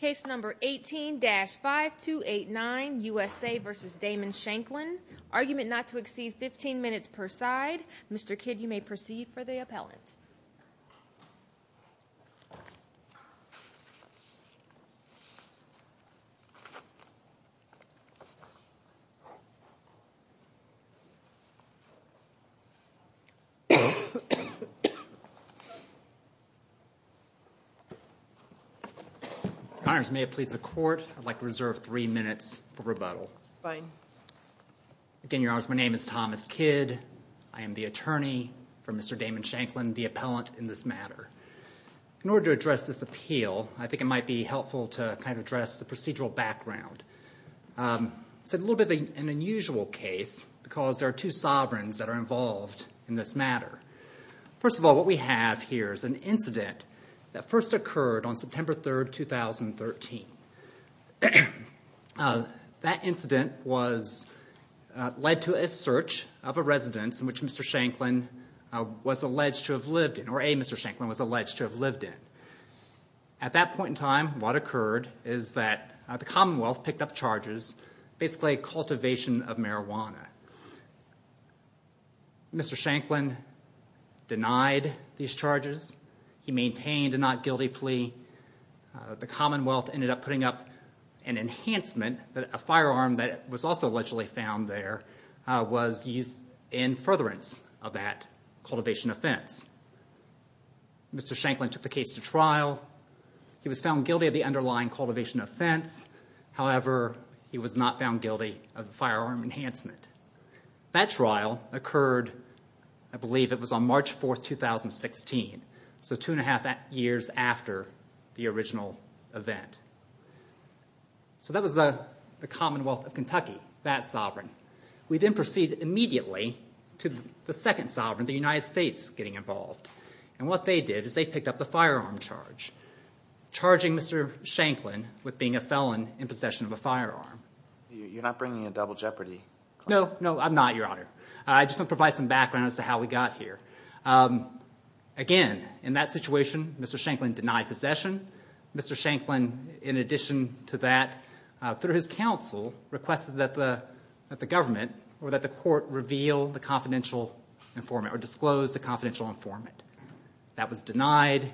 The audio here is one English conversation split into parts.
Case number 18-5289, USA v. Damon Shanklin Argument not to exceed 15 minutes per side Mr. Kidd, you may proceed for the appellant Your Honors, may it please the Court, I'd like to reserve three minutes for rebuttal Fine Again, Your Honors, my name is Thomas Kidd I am the attorney for Mr. Damon Shanklin, the appellant in this matter In order to address this appeal, I think it might be helpful to kind of address the procedural background It's a little bit of an unusual case because there are two sovereigns that are involved in this matter First of all, what we have here is an incident that first occurred on September 3, 2013 That incident led to a search of a residence in which Mr. Shanklin was alleged to have lived in At that point in time, what occurred is that the Commonwealth picked up charges, basically a cultivation of marijuana Mr. Shanklin denied these charges He maintained a not guilty plea The Commonwealth ended up putting up an enhancement, a firearm that was also allegedly found there Was used in furtherance of that cultivation offense Mr. Shanklin took the case to trial He was found guilty of the underlying cultivation offense However, he was not found guilty of the firearm enhancement That trial occurred, I believe it was on March 4, 2016 So two and a half years after the original event So that was the Commonwealth of Kentucky, that sovereign We then proceed immediately to the second sovereign, the United States, getting involved And what they did is they picked up the firearm charge Charging Mr. Shanklin with being a felon in possession of a firearm You're not bringing a double jeopardy claim? No, no, I'm not, Your Honor I just want to provide some background as to how we got here Again, in that situation, Mr. Shanklin denied possession Mr. Shanklin, in addition to that, through his counsel, requested that the government Or that the court reveal the confidential informant, or disclose the confidential informant That was denied,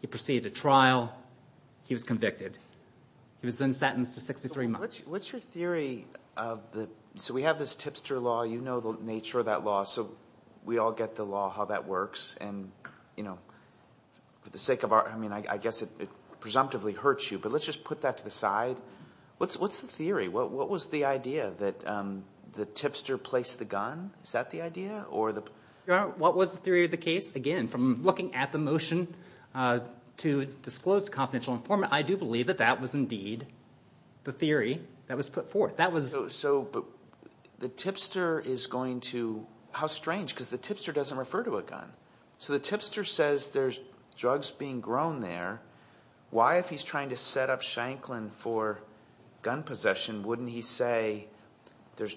he proceeded to trial, he was convicted He was then sentenced to 63 months What's your theory of the... So we have this tipster law, you know the nature of that law So we all get the law, how that works And, you know, for the sake of our... I mean, I guess it presumptively hurts you But let's just put that to the side What's the theory? What was the idea, that the tipster placed the gun? Is that the idea? Your Honor, what was the theory of the case? Again, from looking at the motion to disclose the confidential informant I do believe that that was indeed the theory that was put forth So the tipster is going to... How strange, because the tipster doesn't refer to a gun So the tipster says there's drugs being grown there Why, if he's trying to set up Shanklin for gun possession That just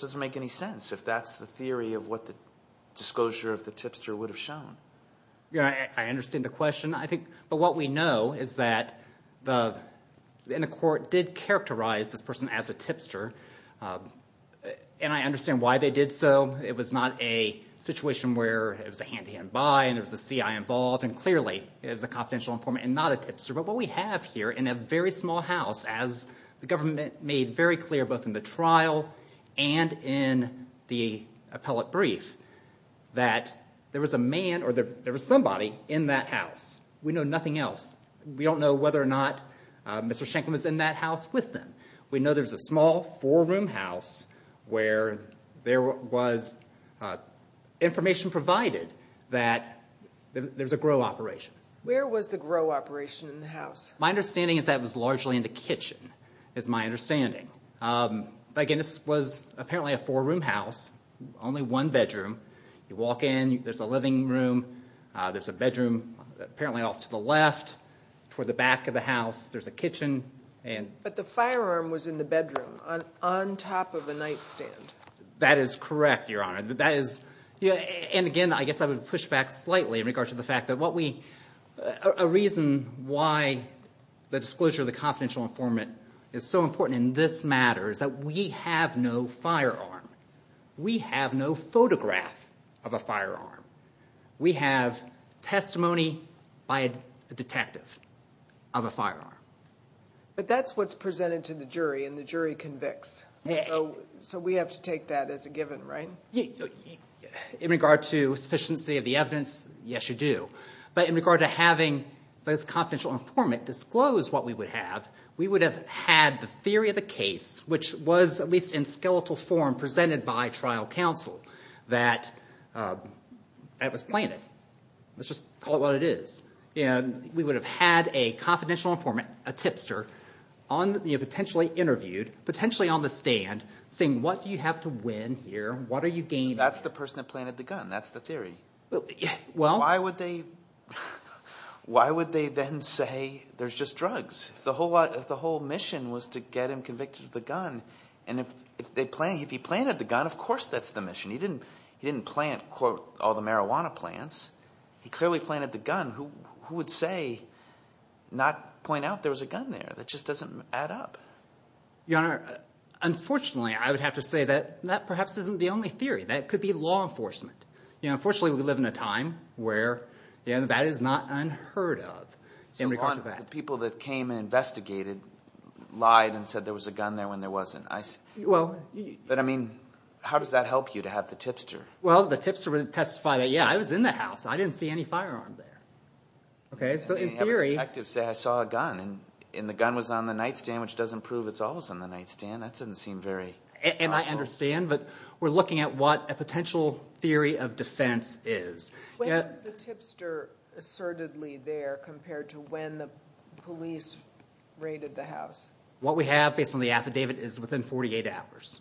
doesn't make any sense If that's the theory of what the disclosure of the tipster would have shown Your Honor, I understand the question But what we know is that the court did characterize this person as a tipster And I understand why they did so It was not a situation where it was a hand-to-hand buy And there was a CI involved And clearly, it was a confidential informant and not a tipster But what we have here, in a very small house As the government made very clear both in the trial and in the appellate brief That there was a man or there was somebody in that house We know nothing else We don't know whether or not Mr. Shanklin was in that house with them We know there's a small four-room house Where there was information provided that there's a grow operation Where was the grow operation in the house? My understanding is that it was largely in the kitchen Is my understanding Again, this was apparently a four-room house Only one bedroom You walk in, there's a living room There's a bedroom apparently off to the left Toward the back of the house There's a kitchen But the firearm was in the bedroom On top of a nightstand That is correct, Your Honor And again, I guess I would push back slightly In regards to the fact that what we A reason why the disclosure of the confidential informant Is so important in this matter Is that we have no firearm We have no photograph of a firearm We have testimony by a detective of a firearm But that's what's presented to the jury And the jury convicts So we have to take that as a given, right? In regard to sufficiency of the evidence, yes you do But in regard to having this confidential informant Disclose what we would have We would have had the theory of the case Which was at least in skeletal form Presented by trial counsel That it was planted Let's just call it what it is And we would have had a confidential informant A tipster Potentially interviewed Potentially on the stand Saying what do you have to win here? What are you gaining? That's the person that planted the gun That's the theory Why would they then say there's just drugs? If the whole mission was to get him convicted of the gun And if he planted the gun Of course that's the mission He didn't plant all the marijuana plants He clearly planted the gun Who would say Not point out there was a gun there? That just doesn't add up Your honor Unfortunately I would have to say That perhaps isn't the only theory That could be law enforcement Unfortunately we live in a time Where that is not unheard of In regard to that The people that came and investigated Lied and said there was a gun there When there wasn't How does that help you to have the tipster? The tipster would testify Yeah I was in the house I didn't see any firearm there Okay so in theory Have a detective say I saw a gun And the gun was on the nightstand Which doesn't prove it's always on the nightstand That doesn't seem very logical And I understand But we're looking at what A potential theory of defense is When was the tipster assertedly there Compared to when the police raided the house? What we have based on the affidavit Is within 48 hours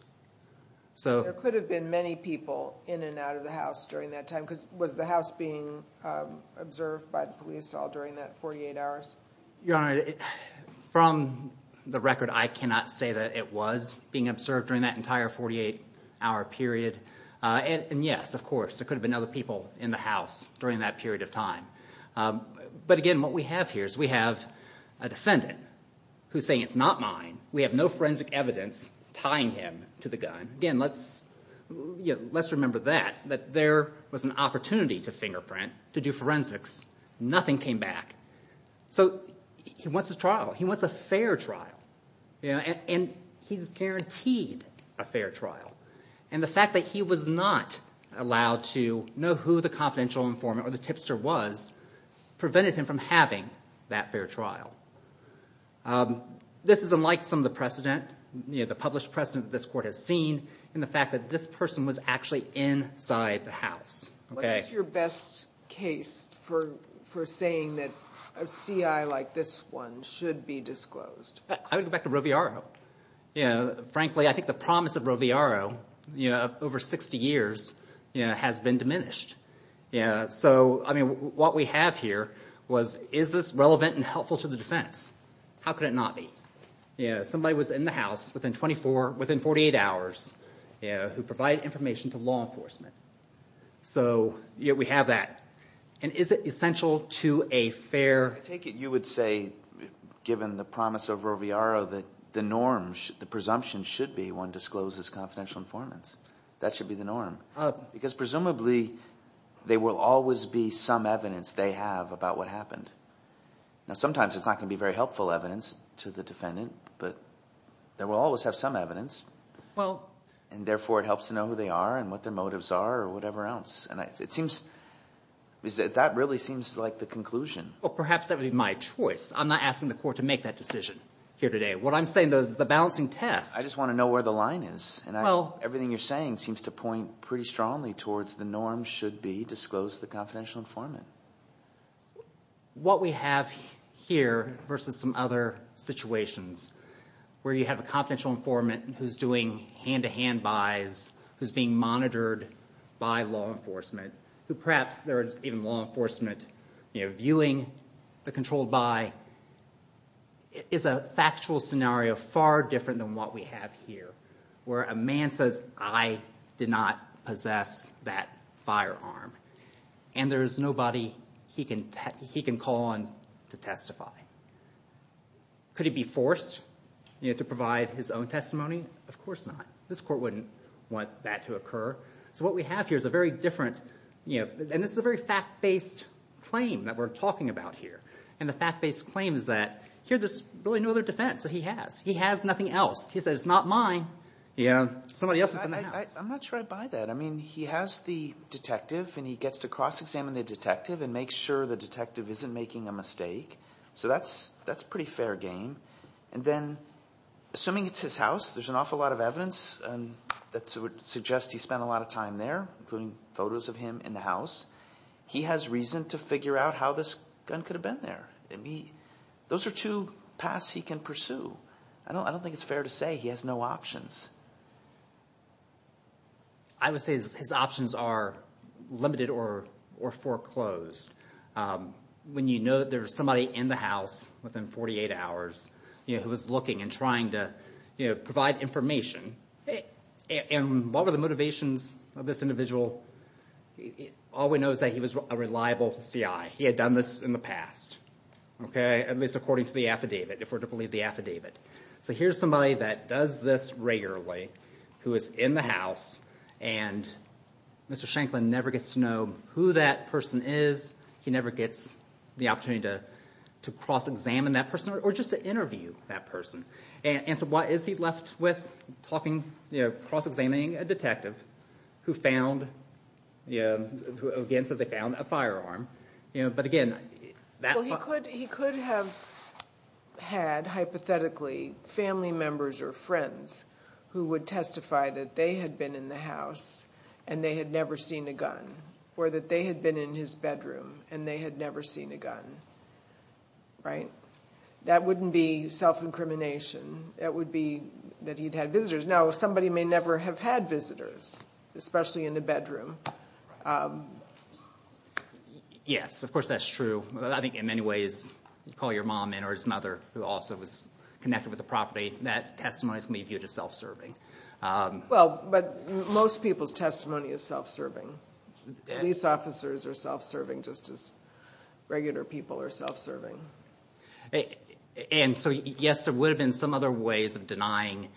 So There could have been many people In and out of the house during that time Because was the house being observed By the police all during that 48 hours? Your honor From the record I cannot say That it was being observed During that entire 48 hour period And yes of course There could have been other people In the house during that period of time But again what we have here Is we have a defendant Who's saying it's not mine We have no forensic evidence Tying him to the gun Again let's Let's remember that That there was an opportunity to fingerprint To do forensics Nothing came back So he wants a trial He wants a fair trial You know and He's guaranteed a fair trial And the fact that he was not Allowed to Know who the confidential informant Or the tipster was Prevented him from having That fair trial This is unlike some of the precedent You know the published precedent This court has seen In the fact that this person Was actually inside the house What is your best case For saying that A CI like this one Should be disclosed I would go back to Roviaro You know frankly I think The promise of Roviaro You know over 60 years You know has been diminished You know so I mean what we have here Was is this relevant And helpful to the defense How could it not be You know somebody was in the house Within 24 within 48 hours You know who provided information To law enforcement So you know we have that And is it essential to a fair I take it you would say Given the promise of Roviaro That the norms The presumption should be One discloses confidential informants That should be the norm Because presumably They will always be some evidence They have about what happened Now sometimes it's not going to be Very helpful evidence To the defendant But they will always have some evidence Well And therefore it helps to know Who they are And what their motives are Or whatever else And it seems That really seems like the conclusion Or perhaps that would be my choice I'm not asking the court To make that decision Here today What I'm saying though Is the balancing test I just want to know where the line is Well Everything you're saying Seems to point pretty strongly Towards the norm should be Disclose the confidential informant What we have here Versus some other situations Where you have a confidential informant Who's doing hand to hand buys Who's being monitored By law enforcement Who perhaps There is even law enforcement You know viewing The controlled buy Is a factual scenario Far different than what we have here Where a man says I did not possess that firearm And there is nobody He can call on to testify Could he be forced You know to provide his own testimony Of course not This court wouldn't want that to occur So what we have here Is a very different You know And this is a very fact based claim That we're talking about here And the fact based claim is that Here there's really no other defense That he has He has nothing else He says it's not mine Yeah Somebody else is in the house I'm not sure I buy that I mean he has the detective And he gets to cross examine the detective And make sure the detective Isn't making a mistake So that's That's a pretty fair game And then Assuming it's his house There's an awful lot of evidence That would suggest He spent a lot of time there Including photos of him in the house He has reason to figure out How this gun could have been there Those are two paths he can pursue I don't think it's fair to say He has no options I would say his options are Limited or foreclosed When you know there's somebody in the house Within 48 hours You know who is looking And trying to You know provide information And what were the motivations Of this individual All we know is that He was a reliable CI He had done this in the past Okay At least according to the affidavit If we're to believe the affidavit So here's somebody That does this regularly Who is in the house And Mr. Shanklin Never gets to know Who that person is He never gets The opportunity to To cross examine that person Or just to interview that person And so what is he left with Talking Cross examining a detective Who found Yeah Who again says they found a firearm You know but again That Well he could He could have Had hypothetically Family members or friends Who would testify That they had been in the house And they had never seen a gun Or that they had been in his bedroom And they had never seen a gun Right That wouldn't be self-incrimination That would be That he'd had visitors Now if somebody may never have had visitors Especially in the bedroom Yes Of course that's true I think in many ways You call your mom in Or his mother Who also was Connected with the property That testimony is going to be Viewed as self-serving Well but Most people's testimony Is self-serving Police officers are self-serving Just as Regular people are self-serving And so yes There would have been some other ways Of denying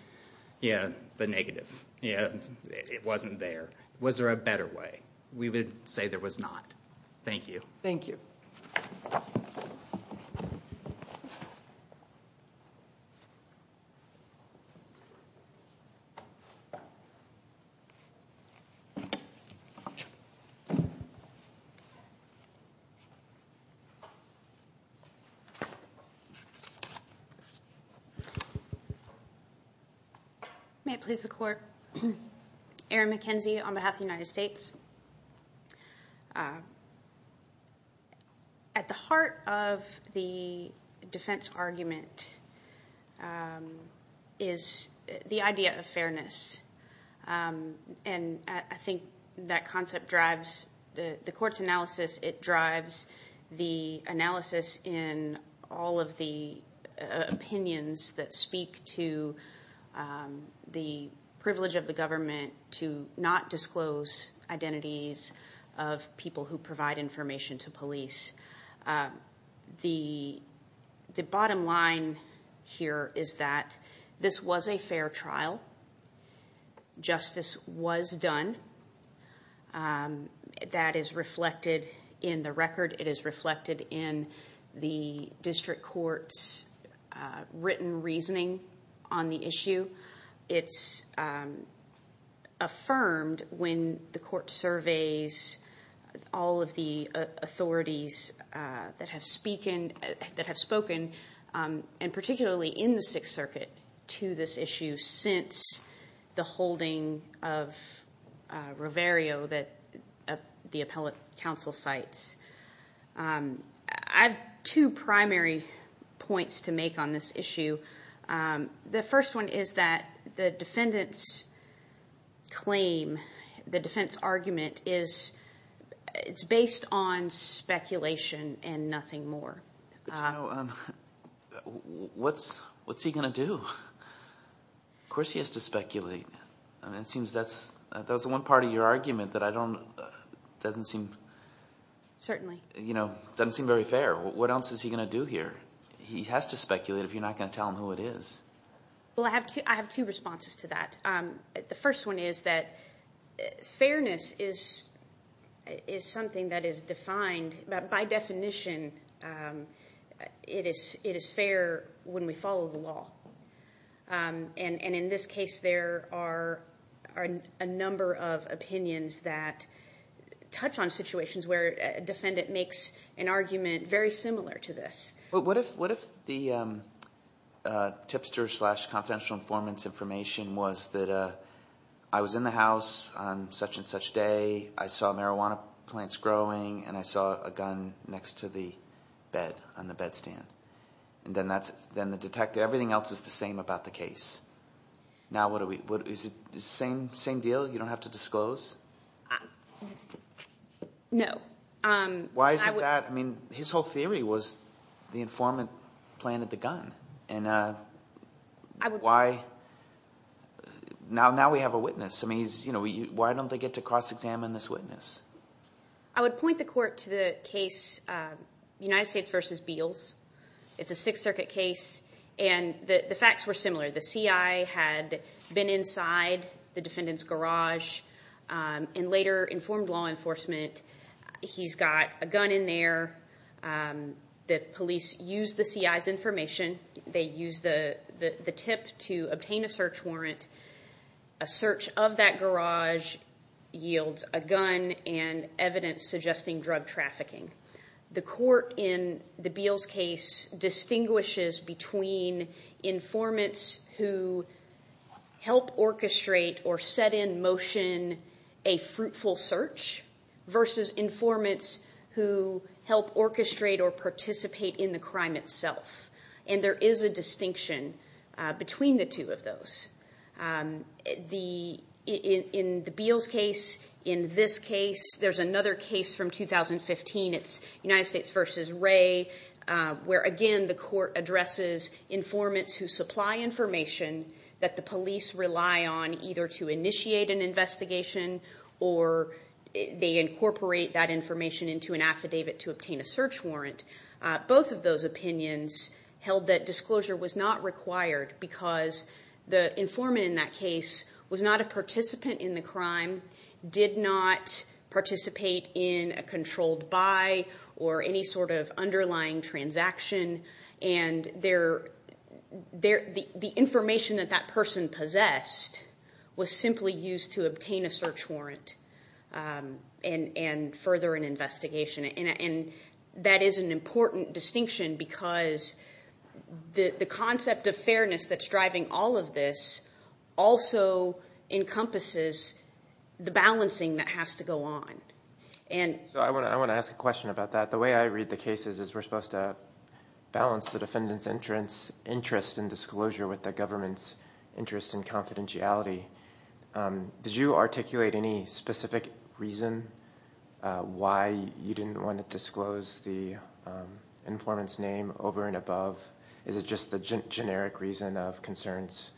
Yeah The negative Yeah It wasn't there Was there a better way We would say there was not Thank you Thank you Thank you May it please the court Erin McKenzie On behalf of the United States At the heart of The Defense argument Is The idea of fairness And I think That concept drives The court's analysis It drives The analysis in All of the Opinions that speak to The Privilege of the government To not disclose Identities Of people who provide information To police The The bottom line Here Is that This was a fair trial Justice was done That is reflected In the record It is reflected in The district court's Written reasoning On the issue It's Affirmed When the court surveys All of the Authorities That have spoken And particularly In the 6th circuit To this issue Since The holding Of Riverio The appellate Council sites I have Two primary Points to make On this issue The first one Is that The defendants Claim The defense argument Is It's based on Speculation And nothing more But you know What's What's he going to do? Of course he has to speculate It seems that's That was one part of your argument That I don't Doesn't seem Certainly You know Doesn't seem very fair What else is he going to do here? He has to speculate If you're not going to tell him who it is Well I have two I have two responses to that The first one is that Fairness is Is something that is Defined By definition It is It is fair When we follow the law And in this case There are A number of Opinions that Touch on situations where A defendant makes An argument Very similar to this But what if What if the Tipster slash Confidential informants Information was that I was in the house On such and such day I saw marijuana Plants growing And I saw a gun Next to the Bed On the bed stand And then that's Then the detective Everything else is the same About the case Now what are we Is it the same Same deal You don't have to disclose No Why isn't that I mean His whole theory was The informant Planted the gun And Why Now we have a witness I mean he's Why don't they get to Cross examine this witness I would point the court To the case United States versus Beals It's a six circuit case And the facts were similar The CI had Been inside The defendant's garage And later Informed law enforcement He's got A gun in there The police Use the CI's information They use the The tip to Obtain a search warrant A search of that garage Yields a gun And evidence Suggesting drug trafficking The court In the Beals case Distinguishes between Informants Who Help orchestrate Or set in motion A fruitful search Versus informants Who Help orchestrate Or participate In the crime itself And there is a distinction Between the two of those The In the Beals case In this case There's another case From 2015 It's United States Versus Ray Where again The court Addresses informants Who supply information That the police Rely on Either to initiate An investigation Or They incorporate That information Into an affidavit To obtain a search warrant Both of those opinions Held that disclosure Was not required Because The informant In that case Was not a participant In the crime Did not Participate In a controlled By Or any sort of Underlying transaction And The information That that person Possessed Was simply Used to obtain A search warrant And further An investigation And that is an Important distinction Because The concept of Fairness that's Driving all of this Also Encompasses The balancing That has to go on And I want to ask a question about that The way I read the case Is we're supposed to Balance the defendant's Interest In disclosure With the government's Interest in confidentiality Did you articulate Any specific Reason Why You didn't want to Disclose the Informant's name Over and above Is it just the Generic reason Of concerns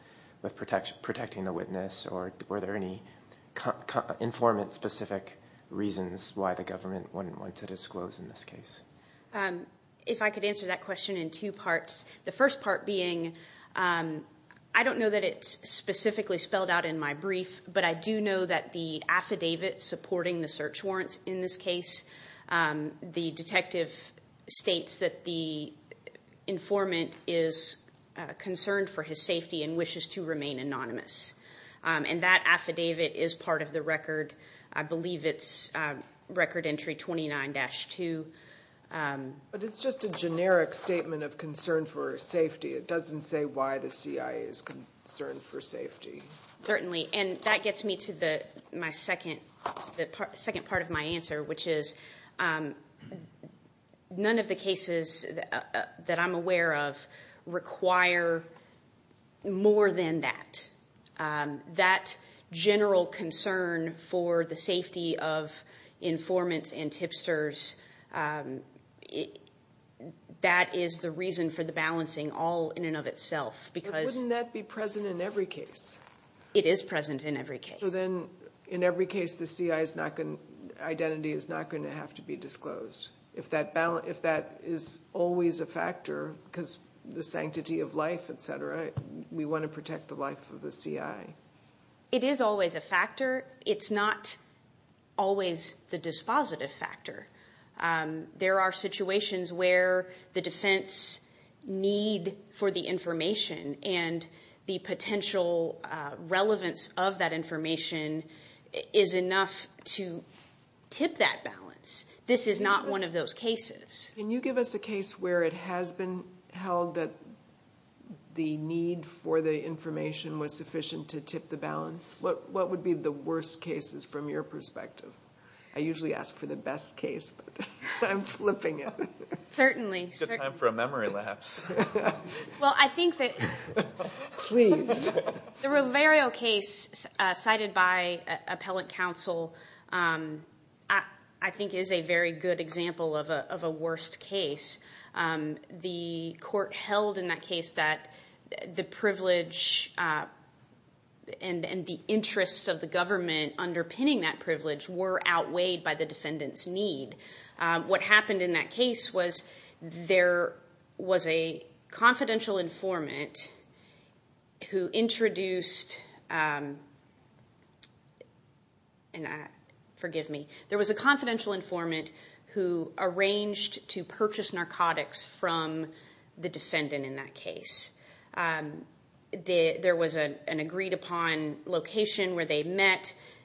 With protecting The witness Or were there any Informant specific Reasons Why the government Wouldn't want to disclose In this case If I could answer that question In two parts The first part being I don't know That it's Specifically spelled out In my brief But I do know That the affidavit Supporting the search warrants In this case The detective States that the Informant Is Concerned for his safety And wishes to remain Anonymous And that affidavit Is part of the record I believe it's Record entry 29-2 But it's just A generic statement Of concern For safety It doesn't say Why the CIA Is concerned For safety Certainly And that gets me To the Second part Of my answer Which is None of the cases That I'm aware of Require More than that That General concern For the safety Of Informants And tipsters That is the reason For the balancing All in and of itself Wouldn't that be present In every case? It is present In every case So then In every case The CIA Identity Is not going to have To be disclosed If that Is always a factor Because The sanctity of life Et cetera We want to protect The life of the CIA It is always a factor It's not Always The dispositive Factor There are Situations Where The defense Need For the information And The potential Relevance Of that information Is enough To Tip that balance This is not One of those cases Can you give us A case where It has been Held that The need For the information Was sufficient To tip the balance? What Would be The worst Cases From your Perspective? I usually ask For the best Case But I'm Flipping it Certainly Good time For a memory Lapse Well I think That Please The Rivero Case Cited by Appellant Counsel I think Is a very Good example Of a Worst case The Court Found That Most Of the Government Underpinning That Privilege Were Outweighed By the Defendant's Need What Happened In that Case Was There Was a Confidential Informant Who Introduced And Forgive Me There Was a There Were Two They Met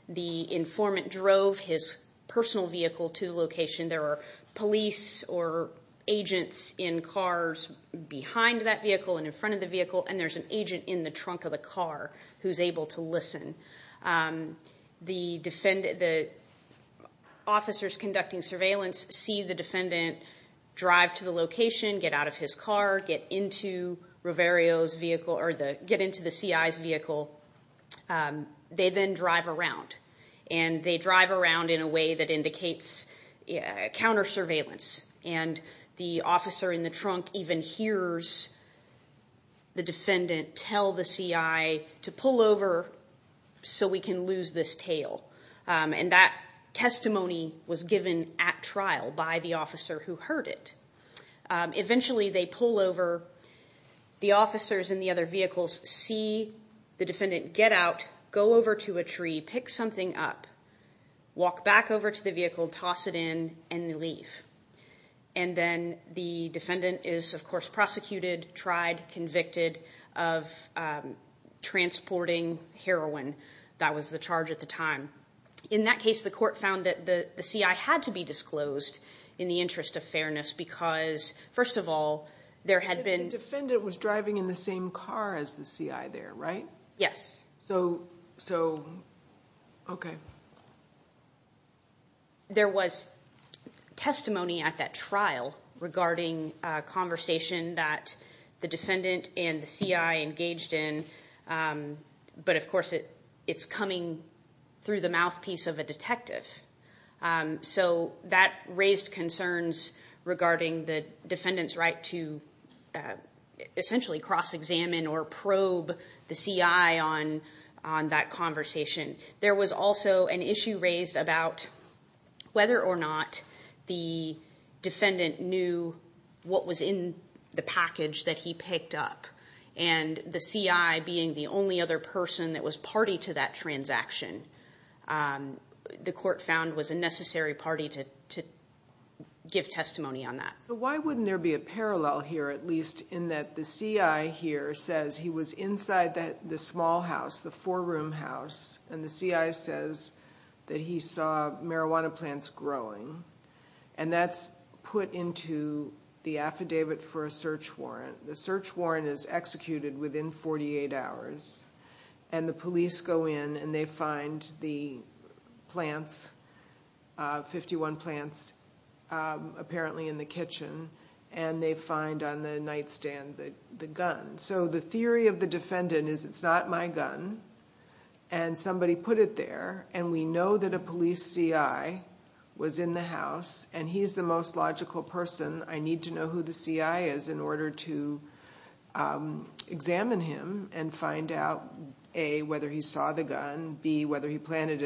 The Informant Drove His Vehicle To The Location There Were Police Or Agents In Cars Behind That Vehicle And There Was An Agent In His Car And They Drive Around In A Way That Indicates Counter Surveillance And The Officer In The Trunk Even Hears The Defendant Tell The C.I. To Pull Over So We Can See The Defendant Get Out Go To The Tree Pick Something Up And Then The Defendant Is Prosecuted And Tried And Convicted Of Transporting Heroin That Was The Charge At The Time In That Case The C.I. Had To Be Disclosed In The Interest Of Fairness Because First Of All There Had Been The Defendant Was Driving In The Same Car As The C.I. And The C.I. Was Coming Through The Mouthpiece Of A Detective So Raised Regarding The Defendant's Right To Essentially Cross-Examine Or Probe The C.I. On That Conversation And That Transaction There Was Also An Issue Raised About Whether Or Not The Defendant Knew What Was In The Package That He Picked Up And The C.I. Being The Only Other Person That Was Party To That Transaction The Court Found Was A C.I. And The C.I. Says That He Saw Marijuana Plants Growing And That's Put Into The Affidavit For A Search Warrant The Search Warrant Is Executed Within 48 Hours And The Police Go In And They Find The Plants Apparently In The Kitchen And They Find The Gun So The Theory Is It Is Not My Gun And We Know That A Police C.I. Was In The House And He Is The Most Logical Person I Need To Know Who The C.I. Is In Order To Examine Him And Find Out A Whether He Saw The Gun B Whether He Planted It In Kitchen I Need To Know Who The C.I. Is In Order To Examine Him And Find Out A Whether He Saw The Gun To Know Who The C.I. Is In Order To Examine Him And Find Out A Whether He Planted It In Kitchen To Is In Order To Examine Him And Find Out A Whether He Planted It In Kitchen To Find Out A Whether He Planted It But I think we all agree under those hypothetical facts, if the government possessed that information, I would be obligated to turn it over. And if the CI had said, I did see a gun, would that have to be revealed also? No, because I believe that that falls more in line with the facts in the Beals case. Thank you. Thank you again, your honors. Again, what we want to point out here, as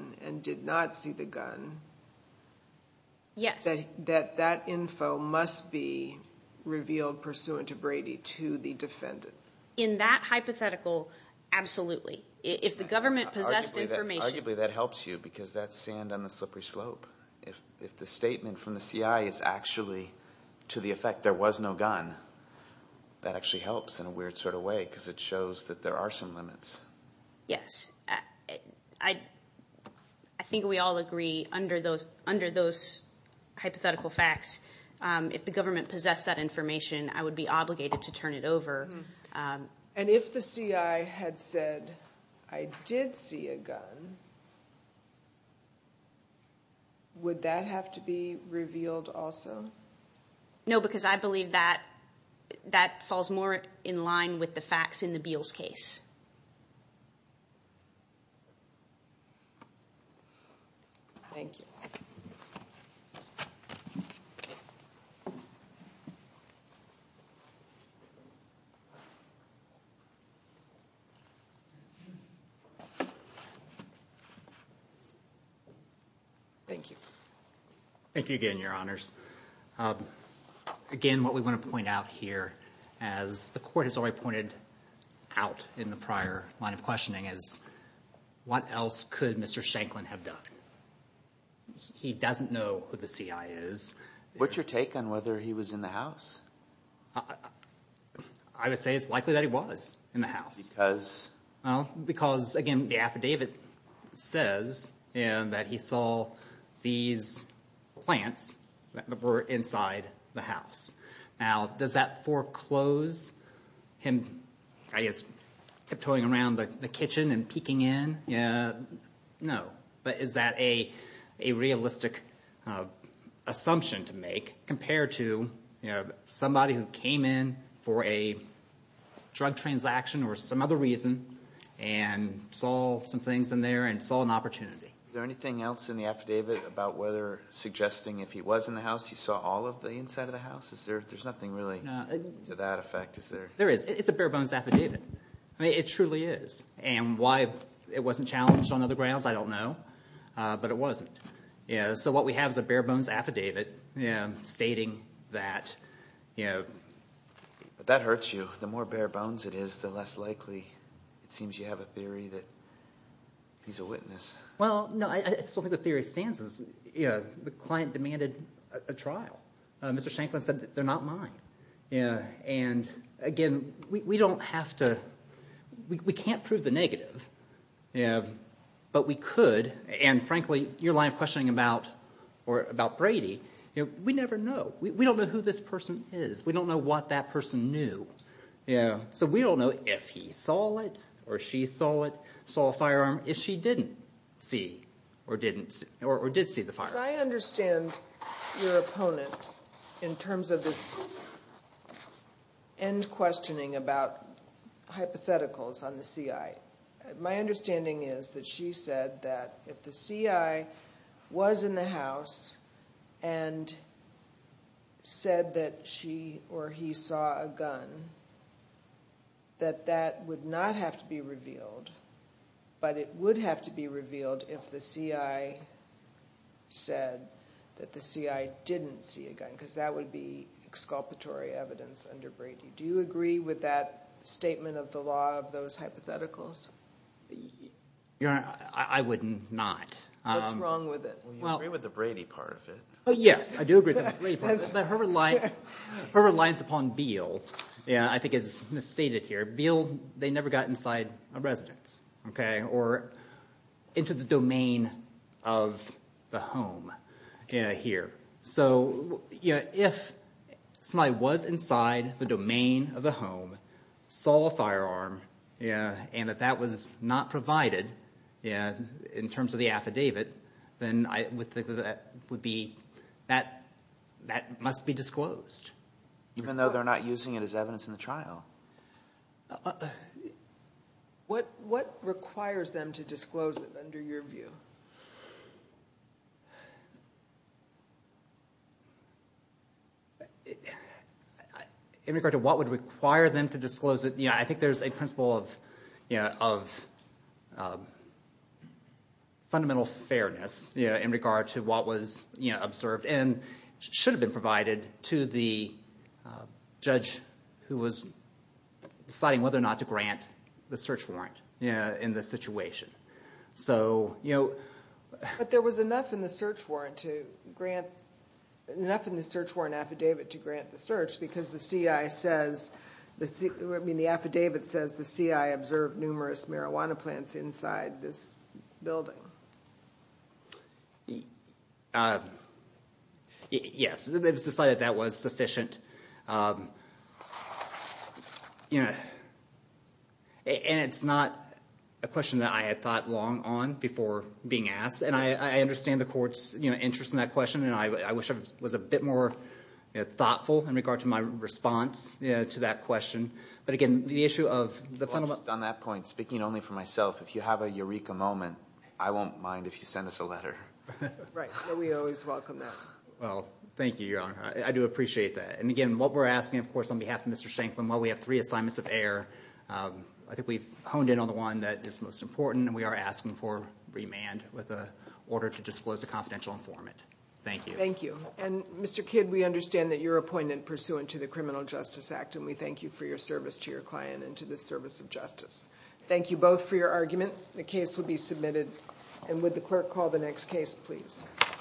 the court has already pointed out in the prior line of questioning, is what else could Mr. Shanklin have done? He doesn't know who the CI is. What's your take on whether he was in the house? I would say it's likely that he was in the house. Because? Because, again, the affidavit says that he saw these plants that were inside the house. Now, does that foreclose him tiptoeing around the kitchen and peeking in? No. But is that a realistic assumption to make compared to somebody who came in for a drug transaction or some other reason and saw some things in there and saw an opportunity? Is there anything else in the affidavit about whether, suggesting if he was in the house, he saw all of the inside of the house? Is there, there's nothing really to that effect, is there? There is. It's a bare-bones affidavit. I mean, it truly is. And why it wasn't challenged on other grounds, I don't know. But it wasn't. You know, so what we have is a bare-bones affidavit stating that, you know. But that hurts you. The more bare-bones it is, the less likely it seems you have a theory that he's a witness. Well, no, I still think the theory stands is, you know, the client demanded a trial. Mr. Shanklin said, they're not mine. Yeah. And, again, we don't have to, we can't prove the negative. Yeah. But we could. And, frankly, your line of questioning about Brady, you know, we never know. We don't know who this person is. We don't know what that person knew. Yeah. So we don't know if he saw it or she saw it, saw a firearm, if she didn't see or didn't see, or did see the firearm. So I understand your opponent in terms of this end questioning about hypotheticals on the CI. My understanding is that she said that if the CI was in the house and said that she or he saw a gun, that that would not have to be revealed. But it would have to be revealed if the CI said that the CI didn't see a gun, because that would be exculpatory evidence under Brady. Do you agree with that statement of the law of those hypotheticals? Your Honor, I would not. What's wrong with it? Well, you agree with the Brady part of it. Oh, yes. I do agree with the Brady part of it. But Herbert Lyons upon Beale, I think is misstated here. Beale, they never got inside a residence, okay, or into the domain of the home here. So, you know, if somebody was inside the domain of the home, saw a firearm, and that that was not provided in terms of the affidavit, then that must be disclosed. Even though they're not using it as evidence in the trial. What requires them to disclose it under your view? In regard to what would require them to disclose it, you know, I think there's a principle of, you know, of fundamental fairness, you know, in regard to what was, you know, observed and should have been provided to the judge who was deciding whether or not to grant the search warrant, you know, in this situation. But there was enough in the search warrant to grant, enough in the search warrant affidavit to grant the search because the C.I. says, I mean, the affidavit says the C.I. observed numerous marijuana plants inside this building. Yes, it was decided that was sufficient. You know, and it's not a question that I had thought long on before being asked, and I understand the court's, you know, interest in that question, and I wish I was a bit more thoughtful in regard to my response, you know, to that question, but again, the issue of the fundamentals. On that point, speaking only for myself, if you have a Eureka moment, I won't mind if you send us a letter. Right, we always welcome that. Well, thank you, Your Honor. I do appreciate that. And again, what we're asking, of course, on behalf of Mr. Shanklin, while we have three assignments of error, I think we've honed in on the one that is most important, and we are asking for remand with the order to disclose a confidential informant. Thank you. Thank you. And Mr. Kidd, we understand that you're appointed pursuant to the Criminal Justice Act, and we thank you for your service to your client and to the service of justice. Thank you both for your argument. The case will be submitted, and would the clerk call the next case, please.